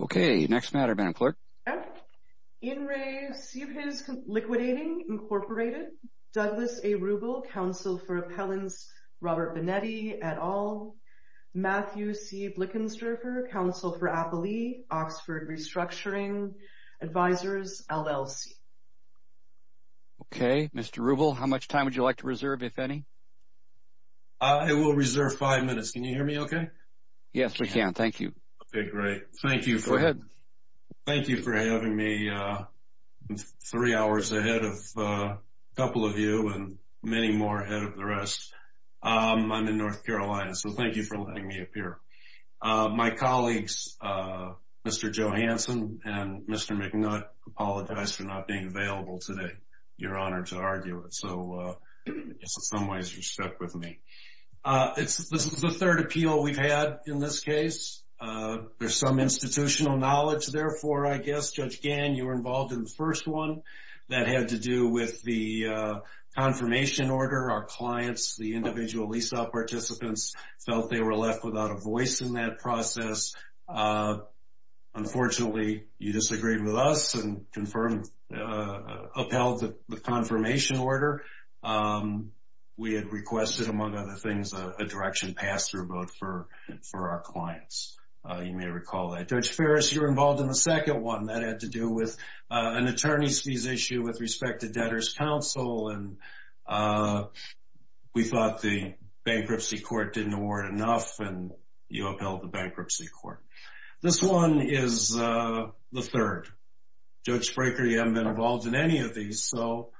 Okay, next matter, Madam Clerk. In re. CPESAZ Liquidating, Inc. Douglas A. Rubel, Counsel for Appellants Robert Bonetti, et al. Matthew C. Blickenstrafer, Counsel for Appalee, Oxford Restructuring, Advisors, LLC. Okay, Mr. Rubel, how much time would you like to reserve, if any? I will reserve five minutes. Can you hear me okay? Yes, we can. Thank you. Okay, great. Thank you. Go ahead. Thank you for having me three hours ahead of a couple of you and many more ahead of the rest. I'm in North Carolina, so thank you for letting me appear. My colleagues, Mr. Johanson and Mr. McNutt, apologize for not being available today. You're honored to argue it. So, in some ways, you stuck with me. This is the third appeal we've had in this case. There's some institutional knowledge, therefore, I guess, Judge Gann, you were involved in the first one. That had to do with the confirmation order. Our clients, the individual lease-out participants, felt they were left without a voice in that process. Unfortunately, you disagreed with us and upheld the confirmation order. We had requested, among other things, a direction pass-through vote for our clients. You may recall that. Judge Ferris, you were involved in the second one. That had to do with an attorney's fees issue with respect to debtors counsel. We thought the bankruptcy court didn't award enough and you upheld the bankruptcy court. This one is the breaker. You haven't been involved in any of these. So,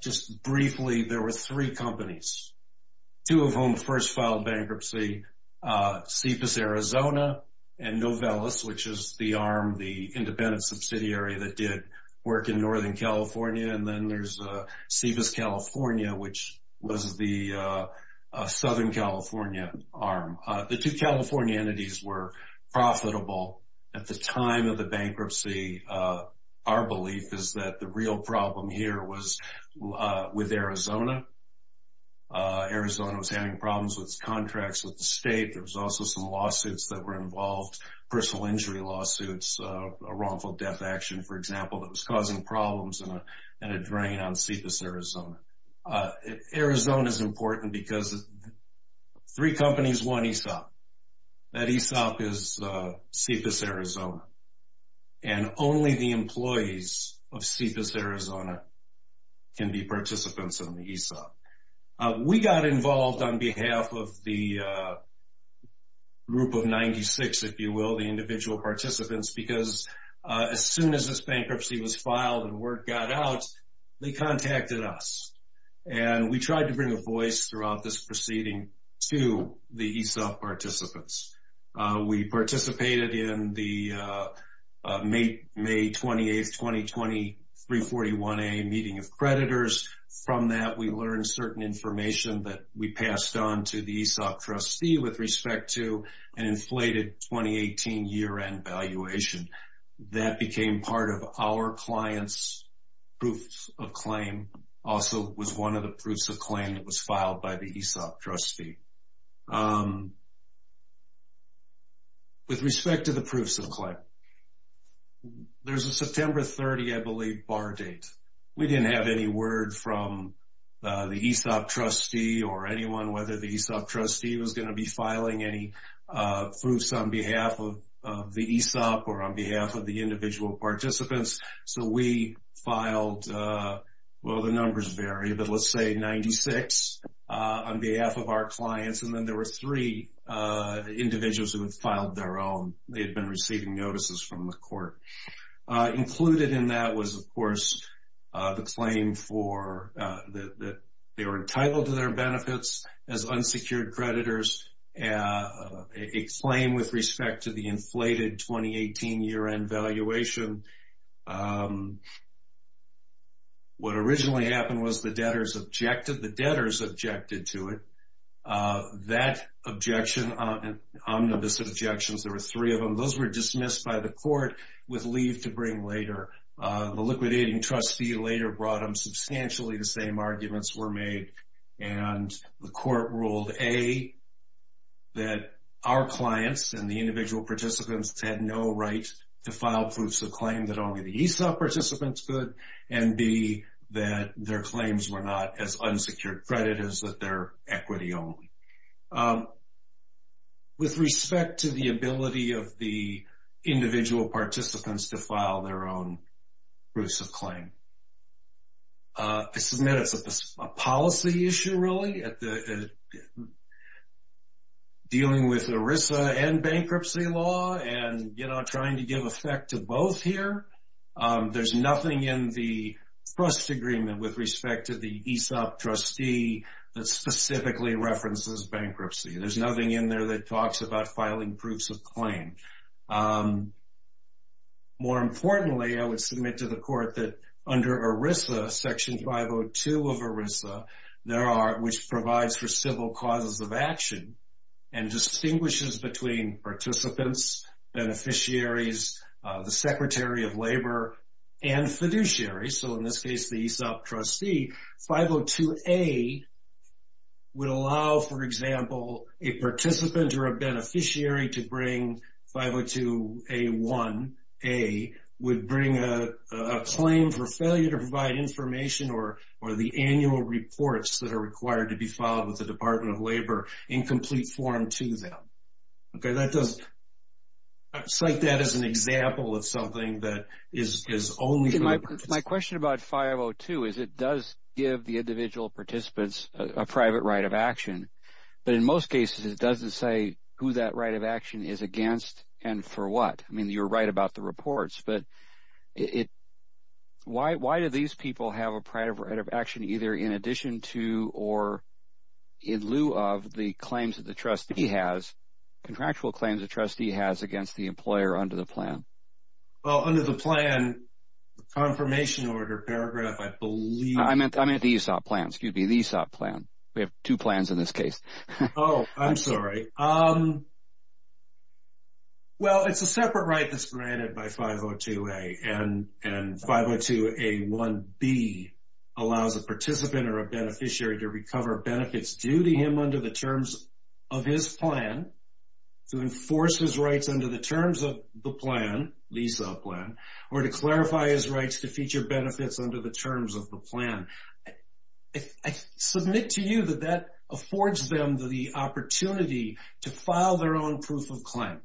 just briefly, there were three companies, two of whom first filed bankruptcy, CEPAS Arizona and Novellus, which is the arm, the independent subsidiary that did work in Northern California, and then there's CEPAS California, which was the Southern California arm. The two California entities were profitable at the time of the bankruptcy. Our belief is that the real problem here was with Arizona. Arizona was having problems with its contracts with the state. There was also some lawsuits that were involved, personal injury lawsuits, a wrongful death action, for example, that was causing problems and a drain on CEPAS Arizona. Arizona is important because three companies won ESOP. That ESOP is CEPAS Arizona and only the employees of CEPAS Arizona can be participants in the ESOP. We got involved on behalf of the group of 96, if you will, the individual participants, because as soon as this bankruptcy was filed and word got out, they contacted us and we tried to bring a voice throughout this proceeding to the ESOP participants. We participated in the May 28, 2020, 341A meeting of creditors. From that, we learned certain information that we passed on to the ESOP trustee with respect to an inflated 2018 year-end valuation. That became part of our client's proof of claim, also was one of the proofs of claim that was filed. With respect to the proofs of claim, there's a September 30, I believe, bar date. We didn't have any word from the ESOP trustee or anyone whether the ESOP trustee was going to be filing any proofs on behalf of the ESOP or on behalf of the individual participants, so we filed, well the numbers vary, but there were three individuals who had filed their own. They had been receiving notices from the court. Included in that was, of course, the claim for that they were entitled to their benefits as unsecured creditors, a claim with respect to the inflated 2018 year-end valuation. What originally happened was the debtors objected. The debtors objected to it. That objection, omnibus objections, there were three of them. Those were dismissed by the court with leave to bring later. The liquidating trustee later brought them. Substantially the same arguments were made and the court ruled A, that our clients and the individual participants had no right to file proofs of claim that only the ESOP participants could, and B, that their claims were not as unsecured creditors, that they're equity only. With respect to the ability of the individual participants to file their own proofs of claim, this is a policy issue really, dealing with ERISA and bankruptcy law and, you know, trying to give effect to both here. There's nothing in the trust agreement with respect to the ESOP trustee that specifically references bankruptcy. There's nothing in there that talks about filing proofs of claim. More importantly, I would submit to the court that under ERISA, Section 502 of ERISA, there are, which provides for civil causes of action and distinguishes between participants, beneficiaries, the Secretary of Labor, and fiduciary. So in this case, the ESOP trustee, 502A would allow, for example, a participant or a beneficiary to bring 502A1A, would bring a claim for failure to provide information or the annual reports that are required to be filed with the Department of Labor in complete form to them. Okay, that doesn't, I cite that as an example of something that is only... My question about 502 is it does give the individual participants a private right of action, but in most cases it doesn't say who that right of action is against and for what. I mean, you're right about the reports, but it, why do these people have a private right of action either in addition to or in lieu of the contractual claims a trustee has against the employer under the plan? Well, under the plan, the confirmation order paragraph, I believe... I meant the ESOP plan, excuse me, the ESOP plan. We have two plans in this case. Oh, I'm sorry. Well, it's a separate right that's granted by 502A and 502A1B allows a participant or a to enforce his rights under the terms of the plan, the ESOP plan, or to clarify his rights to feature benefits under the terms of the plan. I submit to you that that affords them the opportunity to file their own proof of claim.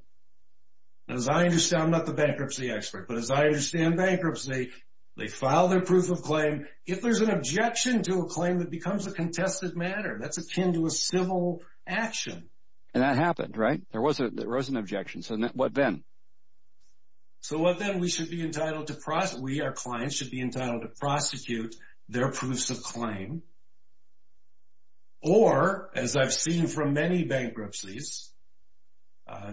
As I understand, I'm not the bankruptcy expert, but as I understand bankruptcy, they file their proof of claim if there's an objection to a claim that becomes a bankruptcy. And that happened, right? There was an objection. So what then? So what then? We should be entitled to prosecute, we, our clients, should be entitled to prosecute their proofs of claim. Or, as I've seen from many bankruptcies,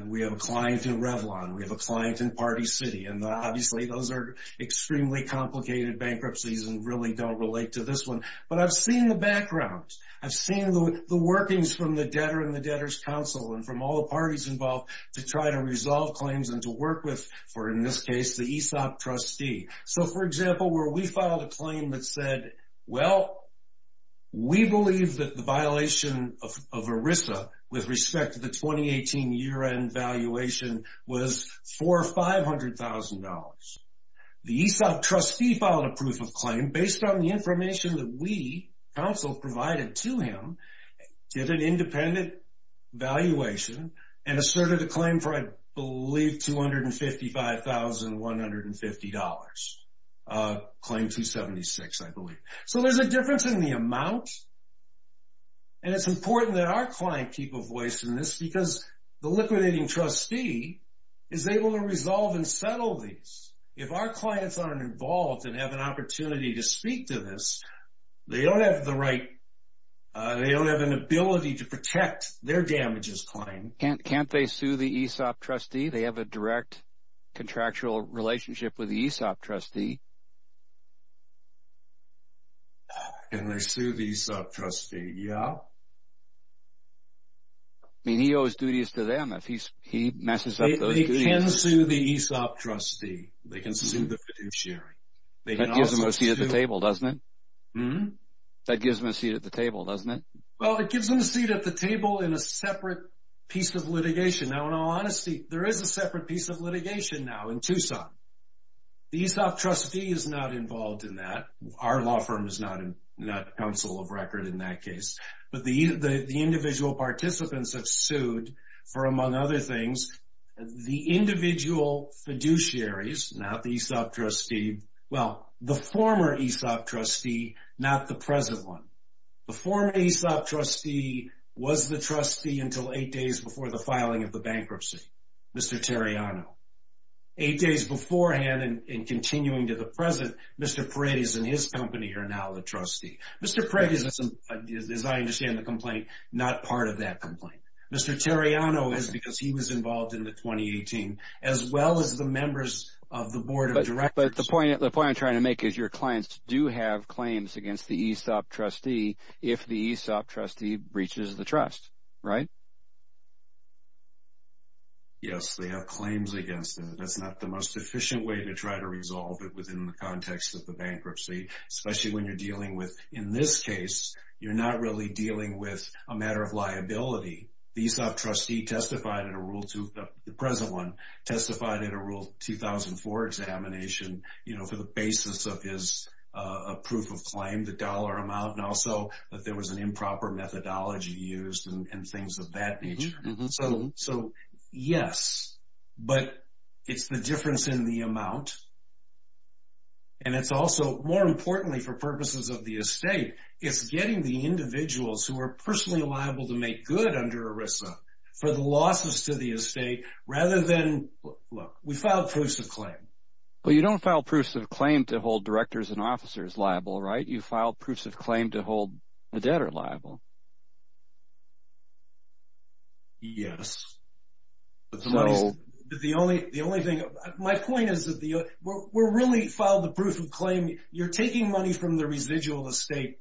we have a client in Revlon, we have a client in Party City, and obviously those are extremely complicated bankruptcies and really don't relate to this one. But I've seen the background. I've seen the debtor and the debtor's counsel and from all the parties involved to try to resolve claims and to work with, for in this case, the ESOP trustee. So for example, where we filed a claim that said, well, we believe that the violation of ERISA with respect to the 2018 year-end valuation was for $500,000. The ESOP trustee filed a proof of claim based on the information that we, counsel, provided to him, did an independent valuation, and asserted a claim for, I believe, $255,150. Claim 276, I believe. So there's a difference in the amount, and it's important that our client keep a voice in this because the liquidating trustee is able to resolve and settle these. If our clients aren't involved and have an ability to protect their damages claim. Can't they sue the ESOP trustee? They have a direct contractual relationship with the ESOP trustee. Can they sue the ESOP trustee? Yeah. I mean, he owes duties to them if he messes up those duties. They can sue the ESOP trustee. They can sue the fiduciary. That gives them a seat at the table, doesn't it? Mm-hmm. That gives them a seat at the table, doesn't it? Well, it gives them a seat at the table in a separate piece of litigation. Now, in all honesty, there is a separate piece of litigation now in Tucson. The ESOP trustee is not involved in that. Our law firm is not a counsel of record in that case. But the individual participants have sued for, among other things, the individual fiduciaries, not the ESOP trustee. Well, the former ESOP trustee, not the present one. The former ESOP trustee was the trustee until eight days before the filing of the bankruptcy, Mr. Terriano. Eight days beforehand and continuing to the present, Mr. Paredes and his company are now the trustee. Mr. Paredes, as I understand the complaint, not part of that complaint. Mr. Terriano is because he was involved in the 2018, as well as the members of the board of directors. But the point I'm trying to make is your clients do have claims against the ESOP trustee if the ESOP trustee breaches the trust, right? Yes, they have claims against it. That's not the most efficient way to try to resolve it within the context of the bankruptcy, especially when you're dealing with, in this case, you're not really dealing with a matter of liability. The ESOP trustee testified in a Rule 2, the present one, testified in a Rule 2004 examination, you know, for the basis of his proof of claim, the dollar amount, and also that there was an improper methodology used and things of that nature. So, yes, but it's the difference in the amount and it's also, more importantly for purposes of the estate, it's getting the individuals who are personally liable to make good under ERISA for the losses to the estate, rather than, look, we filed proofs of claim. Well, you don't file proofs of claim to hold directors and officers liable, right? You file proofs of claim to hold the debtor liable. Yes. But the only thing, my point is that we're really filed the proof of claim, you're taking money from the residual estate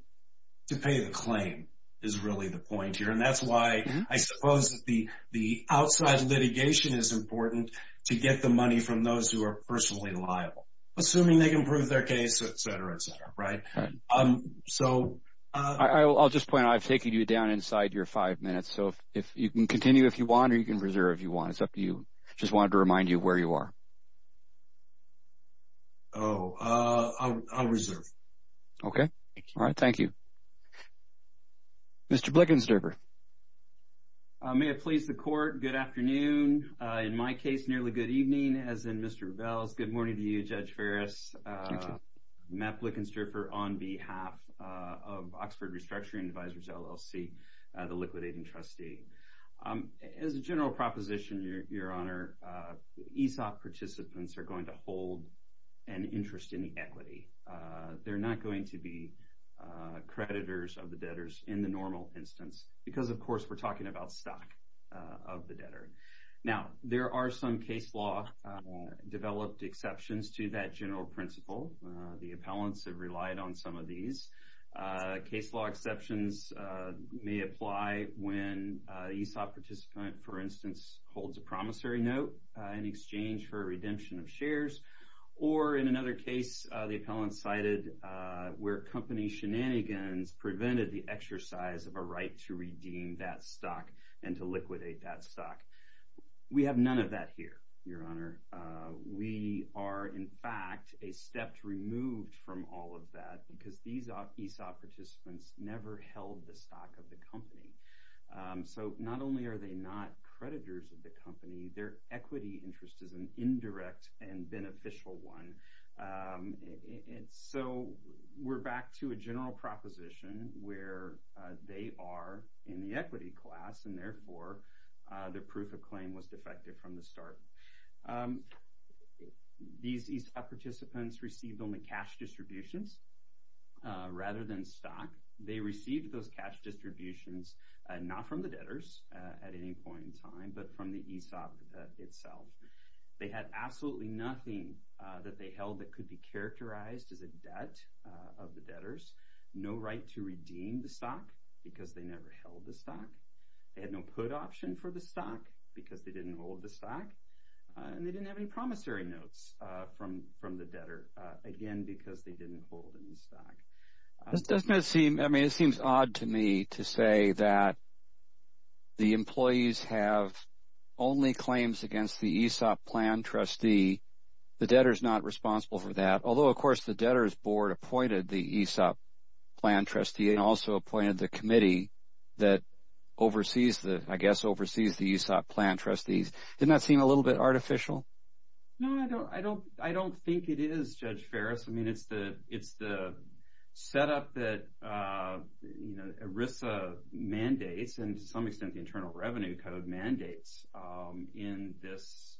to pay the claim, is really the point here, and that's why I suppose that the outside litigation is important to get the money from those who are personally liable, assuming they can prove their case, etc., etc., right? Right. So... I'll just point out, I've taken you down inside your five minutes, so if you can continue if you want, or you can reserve if you want, it's up to you, just wanted to remind you where you are. Oh, I'll reserve. Okay. All right. Thank you. Mr. Blickensturfer. May it please the Court, good afternoon. In my case, nearly good evening, as in Mr. Rebels. Good morning to you, Judge Farris. Thank you. Matt Blickensturfer on behalf of Oxford Restructuring Advisors, LLC, the liquidating trustee. As a general proposition, Your Honor, ESOP, particularly ESOP, is the going to hold an interest in the equity. They're not going to be creditors of the debtors in the normal instance, because, of course, we're talking about stock of the debtor. Now, there are some case law developed exceptions to that general principle. The appellants have relied on some of these. Case law exceptions may apply when an ESOP participant, for instance, holds a promissory note in exchange for a redemption of shares, or in another case, the appellant cited where company shenanigans prevented the exercise of a right to redeem that stock and to liquidate that stock. We have none of that here, Your Honor. We are, in fact, a step removed from all of that, because these ESOP participants never held the stock of the company. So not only are they not creditors of the company, their equity interest is an indirect and beneficial one. So we're back to a general proposition where they are in the equity class, and therefore the proof of claim was defective from the start. These ESOP participants received only cash distributions rather than stock. They received those cash distributions not from the debtors at any point in time, but from the ESOP itself. They had absolutely nothing that they held that could be characterized as a debt of the debtors, no right to redeem the stock because they never held the stock, they had no put option for the stock because they didn't hold the stock, and they didn't have any promissory notes from the debtor, again, because they didn't hold any stock. This does not seem, I mean, it seems odd to me to say that the employees have only claims against the ESOP plan trustee. The debtor is not responsible for that, although, of course, the debtors board appointed the ESOP plan trustee and also appointed the committee that oversees the, I guess, oversees the ESOP plan trustees. Didn't that seem a little bit artificial? No, I don't think it is, Judge Ferris. I mean, it's the setup that, you know, ERISA mandates and, to some extent, the Internal Revenue Code mandates in this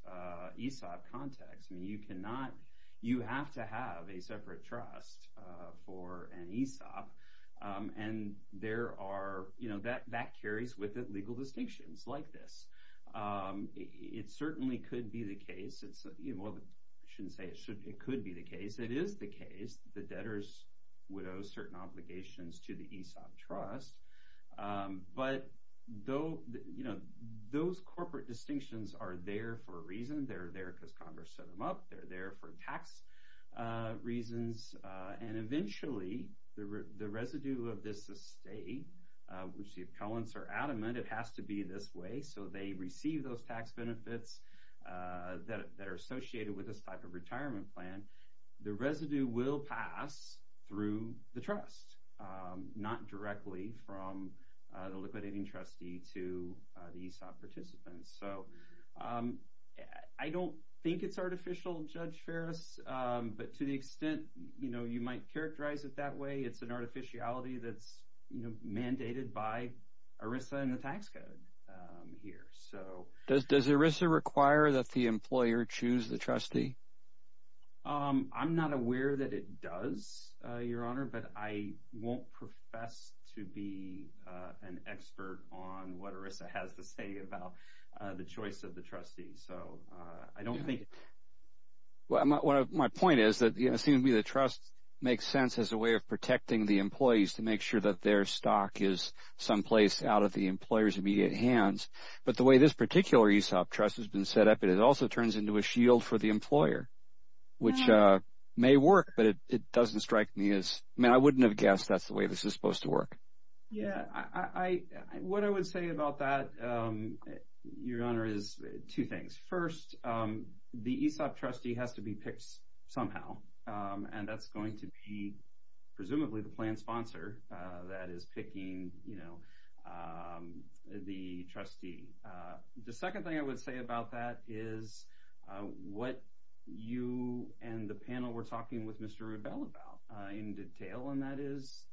ESOP context, and you cannot, you have to have a separate trust for an ESOP, and there are, you know, that carries with it legal distinctions like this. It certainly could be the case, it's, you know, well, I shouldn't say it could be the case. It is the case. The debtors would owe certain obligations to the ESOP trust, but though, you know, those corporate distinctions are there for a reason. They're there because Congress set them up. They're there for tax reasons, and eventually, the residue of this estate, which the accountants are adamant it has to be this way so they receive those tax benefits that are associated with this type of retirement plan, the residue will pass through the trust, not directly from the liquidating trustee to the ESOP participants. So I don't think it's artificial, Judge Ferris, but to the extent, you know, you might characterize it that way, it's an artificiality that's, you know, mandated by ERISA and the tax code here. Does ERISA require that the employer choose the trustee? I'm not aware that it does, Your Honor, but I won't profess to be an expert on what ERISA has to say about the choice of the trustee. So I don't think... My point is that it seems to me the trust makes sense as a way of protecting the employees to make sure that their stock is someplace out of the employer's immediate hands, but the way this particular ESOP trust has been set up, it also turns into a shield for the employer, which may work, but it doesn't strike me as... I mean, I wouldn't have guessed that's the way this is supposed to work. Yeah, what I would say about that, Your Honor, is two things. First, the ESOP trustee has to be picked somehow, and that's going to be presumably the plan sponsor that is picking, you know, the trustee. The second thing I would say about that is what you and the panel were talking with Mr. Rubell about in detail, and that is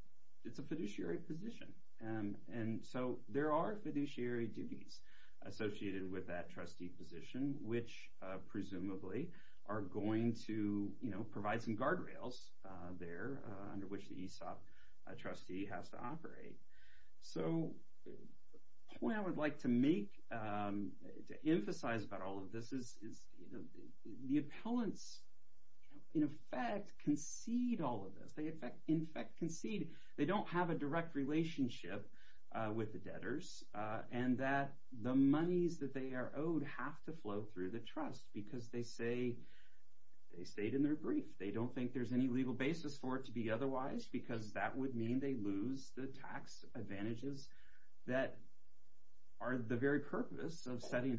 it's a fiduciary position, and so there are fiduciary duties associated with that trustee position, which presumably are going to, you know, provide some guardrails there under which the ESOP trustee has to operate. So the point I would like to make, to emphasize about all of this is, you know, the appellants in effect concede all of this. They in effect concede they don't have a direct relationship with the debtors and that the monies that they are owed have to flow through the trust because they say they stayed in their brief. They don't think there's any legal basis for it to be otherwise because that would mean they lose the tax advantages that are the very purpose of setting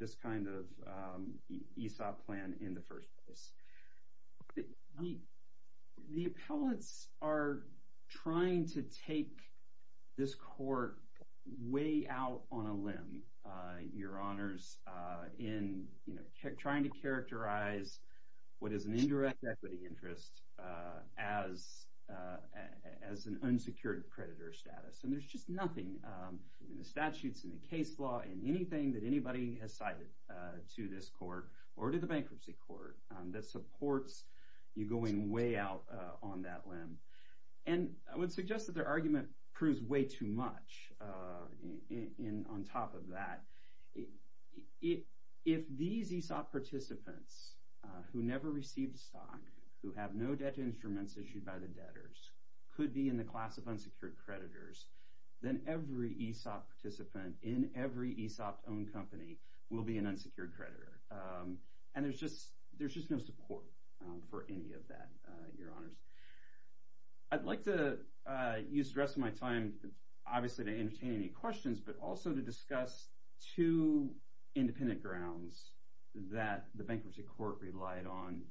this kind of ESOP plan in the first place. The appellants are trying to take this court way out on a limb, Your Honors, in, you know, trying to characterize what is an indirect equity interest as an unsecured creditor status, and there's just nothing in the statutes and the case law and anything that anybody has cited to this court or to the bankruptcy court that supports you going way out on that limb. And I would suggest that their argument proves way too much on top of that. If these ESOP participants who never received stock, who have no debt instruments issued by the debtors, could be in the class of unsecured creditors, then every ESOP participant in every ESOP-owned company will be an unsecured creditor. And there's just no support for any of that, Your Honors. I'd like to use the rest of my time, obviously, to entertain any questions, but also to discuss two independent grounds that the bankruptcy court relied on,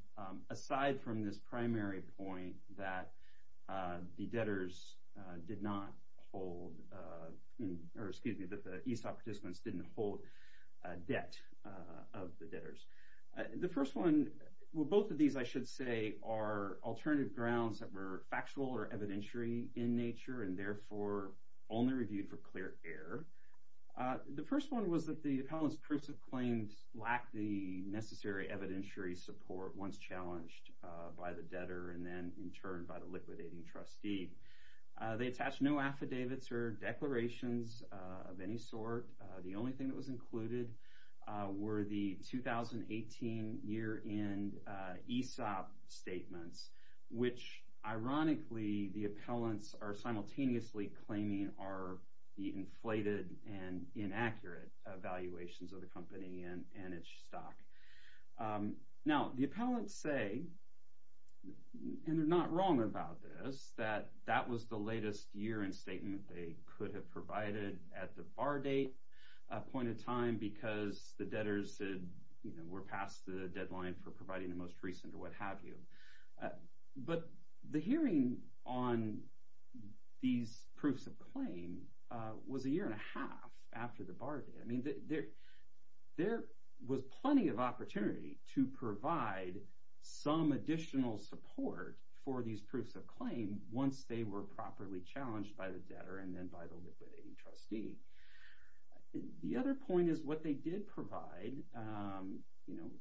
aside from this primary point that the debtors did not hold, or excuse me, that the ESOP participants didn't hold debt of the debtors. The first one, well, both of these, I should say, are alternative grounds that were factual or evidentiary in nature, and therefore only reviewed for clear air. The first one was that the appellant's prucific claims lacked the necessary evidentiary support once challenged by the debtor and then, in turn, by the liquidating trustee. They attached no affidavits or declarations of any sort. The only thing that was included were the 2018 year-end ESOP statements, which, ironically, the appellants are simultaneously claiming are the inflated and inaccurate valuations of the company and its stock. Now, the appellants say, and they're not wrong about this, that that was the latest year-end statement they could have provided at the bar date point in time because the debtors were past the deadline for providing the most recent or what have you. But the hearing on these proofs of claim was a year and a half after the bar date. I mean, there was plenty of opportunity to provide some additional support for these proofs of claim once they were properly challenged by the debtor and then by the liquidating trustee. The other point is what they did provide,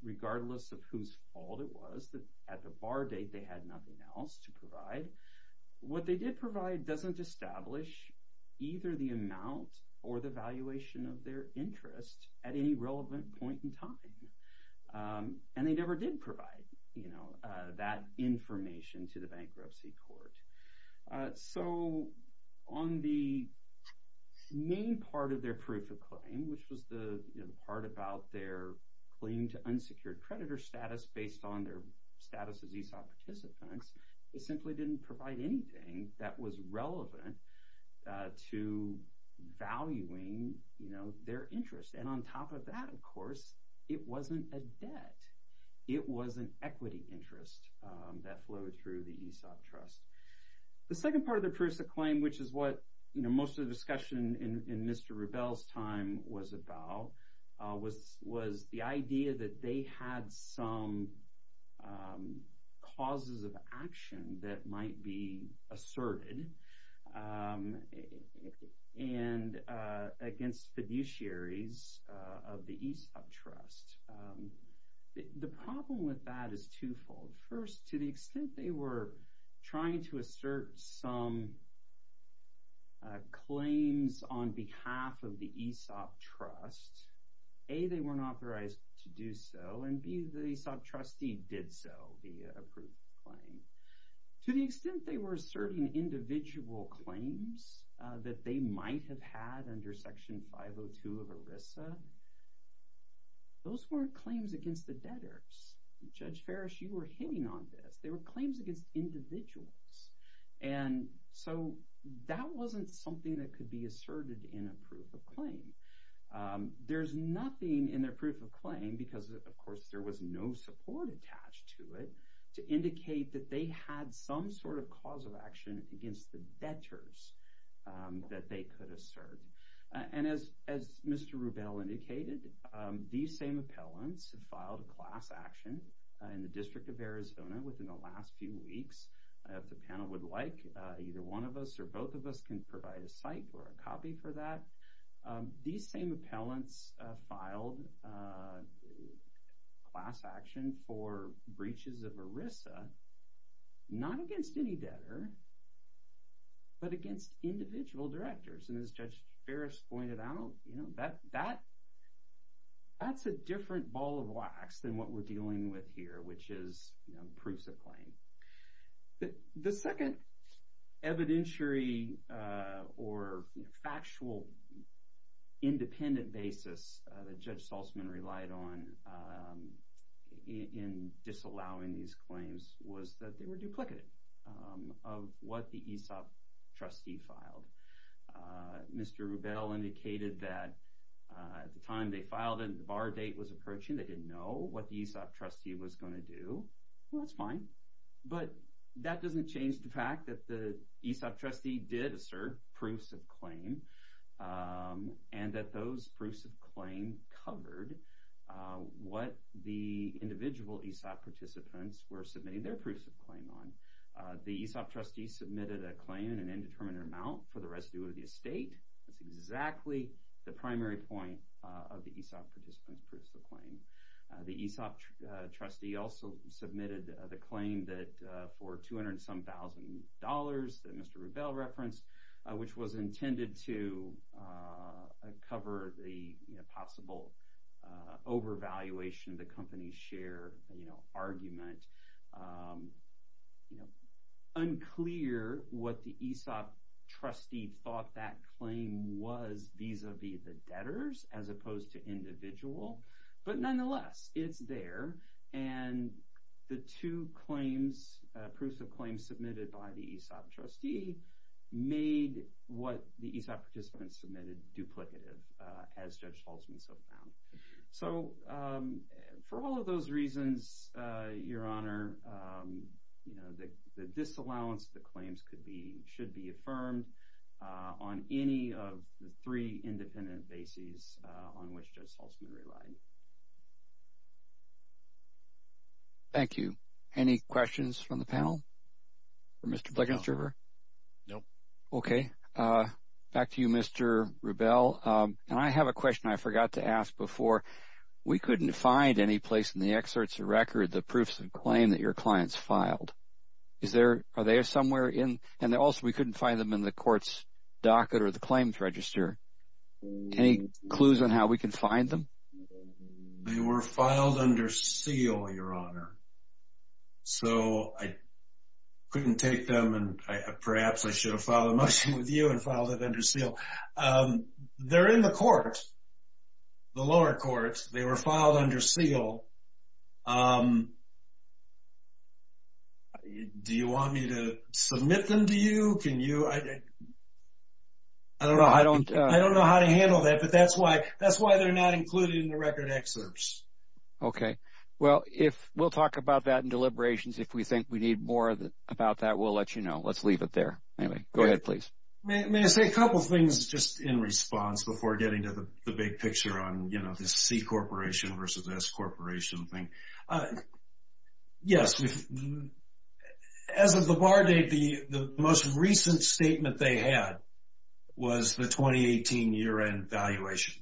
regardless of whose fault it was, at the bar date they had nothing else to provide. What they did provide doesn't establish either the amount or the valuation of their interest at any relevant point in time. And they never did provide that information to the bankruptcy court. So on the main part of their proof of claim, which was the part about their claim to unsecured creditor status based on their status as ESOP participants, they simply didn't provide anything that was relevant to valuing their interest. And on top of that, of course, it wasn't a debt. It was an equity interest that flowed through the ESOP trust. The second part of the proofs of claim, which is what most of the discussion in Mr. Rubel's time was about, was the idea that they had some causes of action that might be asserted against fiduciaries of the ESOP trust. The problem with that is twofold. First, to the extent they were trying to assert some claims on behalf of the ESOP trust, A, they weren't authorized to do so, and B, the ESOP trustee did so, the approved claim. To the extent they were asserting individual claims that they might have had under Section 502 of ERISA, those weren't claims against the debtors. Judge Farish, you were hitting on this. They were claims against individuals. And so that wasn't something that could be asserted in a proof of claim. There's nothing in their proof of claim because, of course, there was no support attached to it to indicate that they had some sort of cause of action against the debtors that they could assert. And as Mr. Rubel indicated, these same appellants filed a class action in the District of Arizona within the last few weeks. If the panel would like, either one of us or both of us can provide a site or a copy for that. These same appellants filed a class action for breaches of ERISA, not against any debtor, but against individual directors. And as Judge Farish pointed out, that's a different ball of wax than what we're dealing with here, which is proofs of claim. The second evidentiary or factual independent basis that Judge Saltzman relied on in disallowing these claims was that they were duplicated of what the ESOP trustee filed. Mr. Rubel indicated that at the time they filed it, the bar date was approaching. They didn't know what the ESOP trustee was going to do. Well, that's fine, but that doesn't change the fact that the ESOP trustee did assert proofs of claim and that those proofs of claim covered what the individual ESOP participants were submitting their proofs of claim on. The ESOP trustee submitted a claim in an indeterminate amount for the residue of the estate. That's exactly the primary point of the ESOP participant's proofs of claim. The ESOP trustee also submitted the claim that for 200-some thousand dollars that Mr. Rubel referenced, which was intended to cover the possible overvaluation of the company's share argument, unclear what the ESOP trustee thought that claim was vis-a-vis the debtors as opposed to individual, but nonetheless, it's there and the two claims, proofs of claim submitted by the ESOP trustee made what the ESOP participants submitted duplicative, as Judge Haltzman so found. For all of those reasons, Your Honor, the disallowance of the claims should be affirmed on any of the three independent bases on which Judge Haltzman relied. Thank you. Any questions from the panel for Mr. Blankenstuber? No. Okay. Back to you, Mr. Rubel. I have a question I forgot to ask before. We couldn't find any place in the excerpts of record the proofs of claim that your clients filed. Are they somewhere in? And also, we couldn't find them in the court's docket or the claims register. Any clues on how we can find them? They were filed under seal, Your Honor. So, I couldn't take them and perhaps I should have filed a motion with you and filed it under seal. They're in the court, the lower court. They were filed under seal. Do you want me to submit them to you? I don't know how to handle that, but that's why they're not included in the record excerpts. Okay. Well, we'll talk about that in deliberations. If we think we need more about that, we'll let you know. Let's leave it there. Anyway, go ahead, please. May I say a couple things just in response before getting to the big picture on, you know, this C Corporation versus S Corporation thing? Yes. As of the bar date, the most recent statement they had was the 2018 year-end valuation.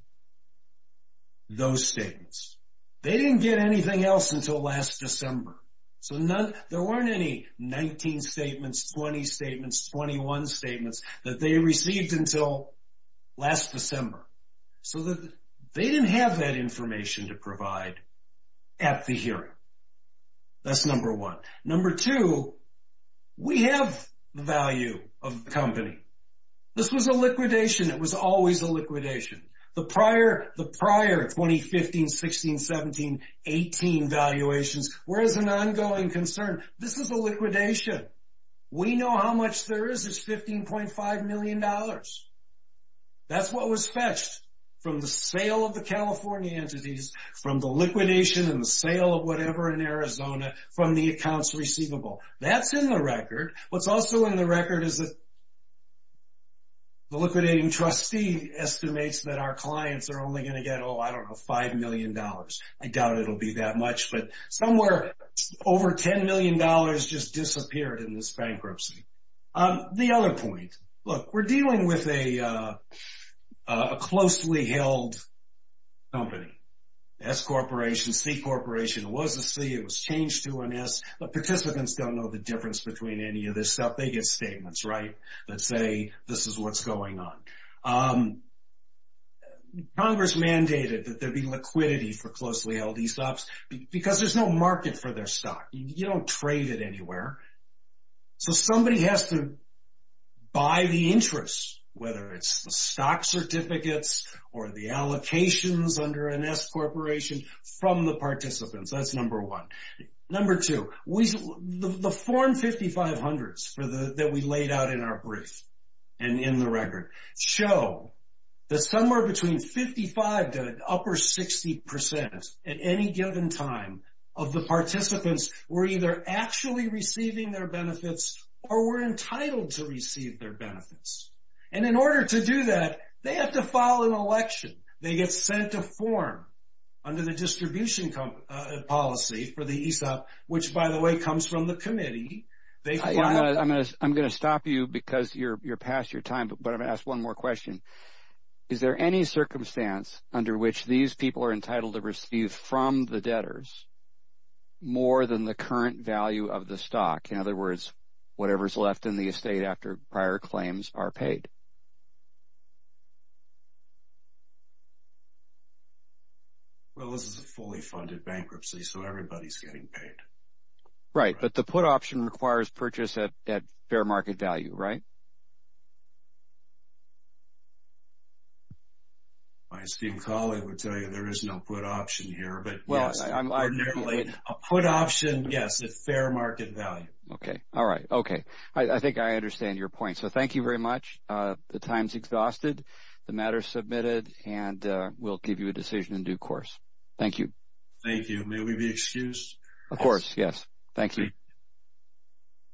Those statements. They didn't get anything else until last December. So, there weren't any 19 statements, 20 statements, 21 statements that they received until last December. So, they didn't have that information to provide at the hearing. That's number one. Number two, we have the value of the company. This was a liquidation. It was always a liquidation. The prior 2015, 16, 17, 18 valuations were as an ongoing concern. This is a liquidation. We know how much there is. It's $15.5 million. That's what was fetched from the sale of the California entities, from the liquidation and the sale of whatever in Arizona, That's in the record. What's also in the record is that the liquidating trustee estimates that our clients are only going to get, oh, I don't know, $5 million. I doubt it will be that much, but somewhere over $10 million just disappeared in this bankruptcy. The other point. Look, we're dealing with a closely held company. S Corporation, C Corporation. It was a C. It was changed to an S. The participants don't know the difference between any of this stuff. They get statements, right, that say this is what's going on. Congress mandated that there be liquidity for closely held E-stops because there's no market for their stock. You don't trade it anywhere. So somebody has to buy the interest, whether it's the stock certificates or the allocations under an S Corporation, from the participants. That's number one. Number two. The form 5500s that we laid out in our brief and in the record show that somewhere between 55% to an upper 60% at any given time of the participants were either actually receiving their benefits or were entitled to receive their benefits. And in order to do that, they have to file an election. They get sent a form under the distribution policy for the E-stop, which, by the way, comes from the committee. I'm going to stop you because you're past your time, but I'm going to ask one more question. Is there any circumstance under which these people are entitled to receive from the debtors more than the current value of the stock? In other words, whatever's left in the estate after prior claims are paid. Well, this is a fully funded bankruptcy, so everybody's getting paid. Right, but the put option requires purchase at fair market value, right? My esteemed colleague would tell you there is no put option here, but yes, ordinarily a put option, yes, at fair market value. Okay, all right. Okay, I think I understand your point. So thank you very much. The time's exhausted. The matter's submitted, and we'll give you a decision in due course. Thank you. Thank you. May we be excused? Of course, yes. Thank you.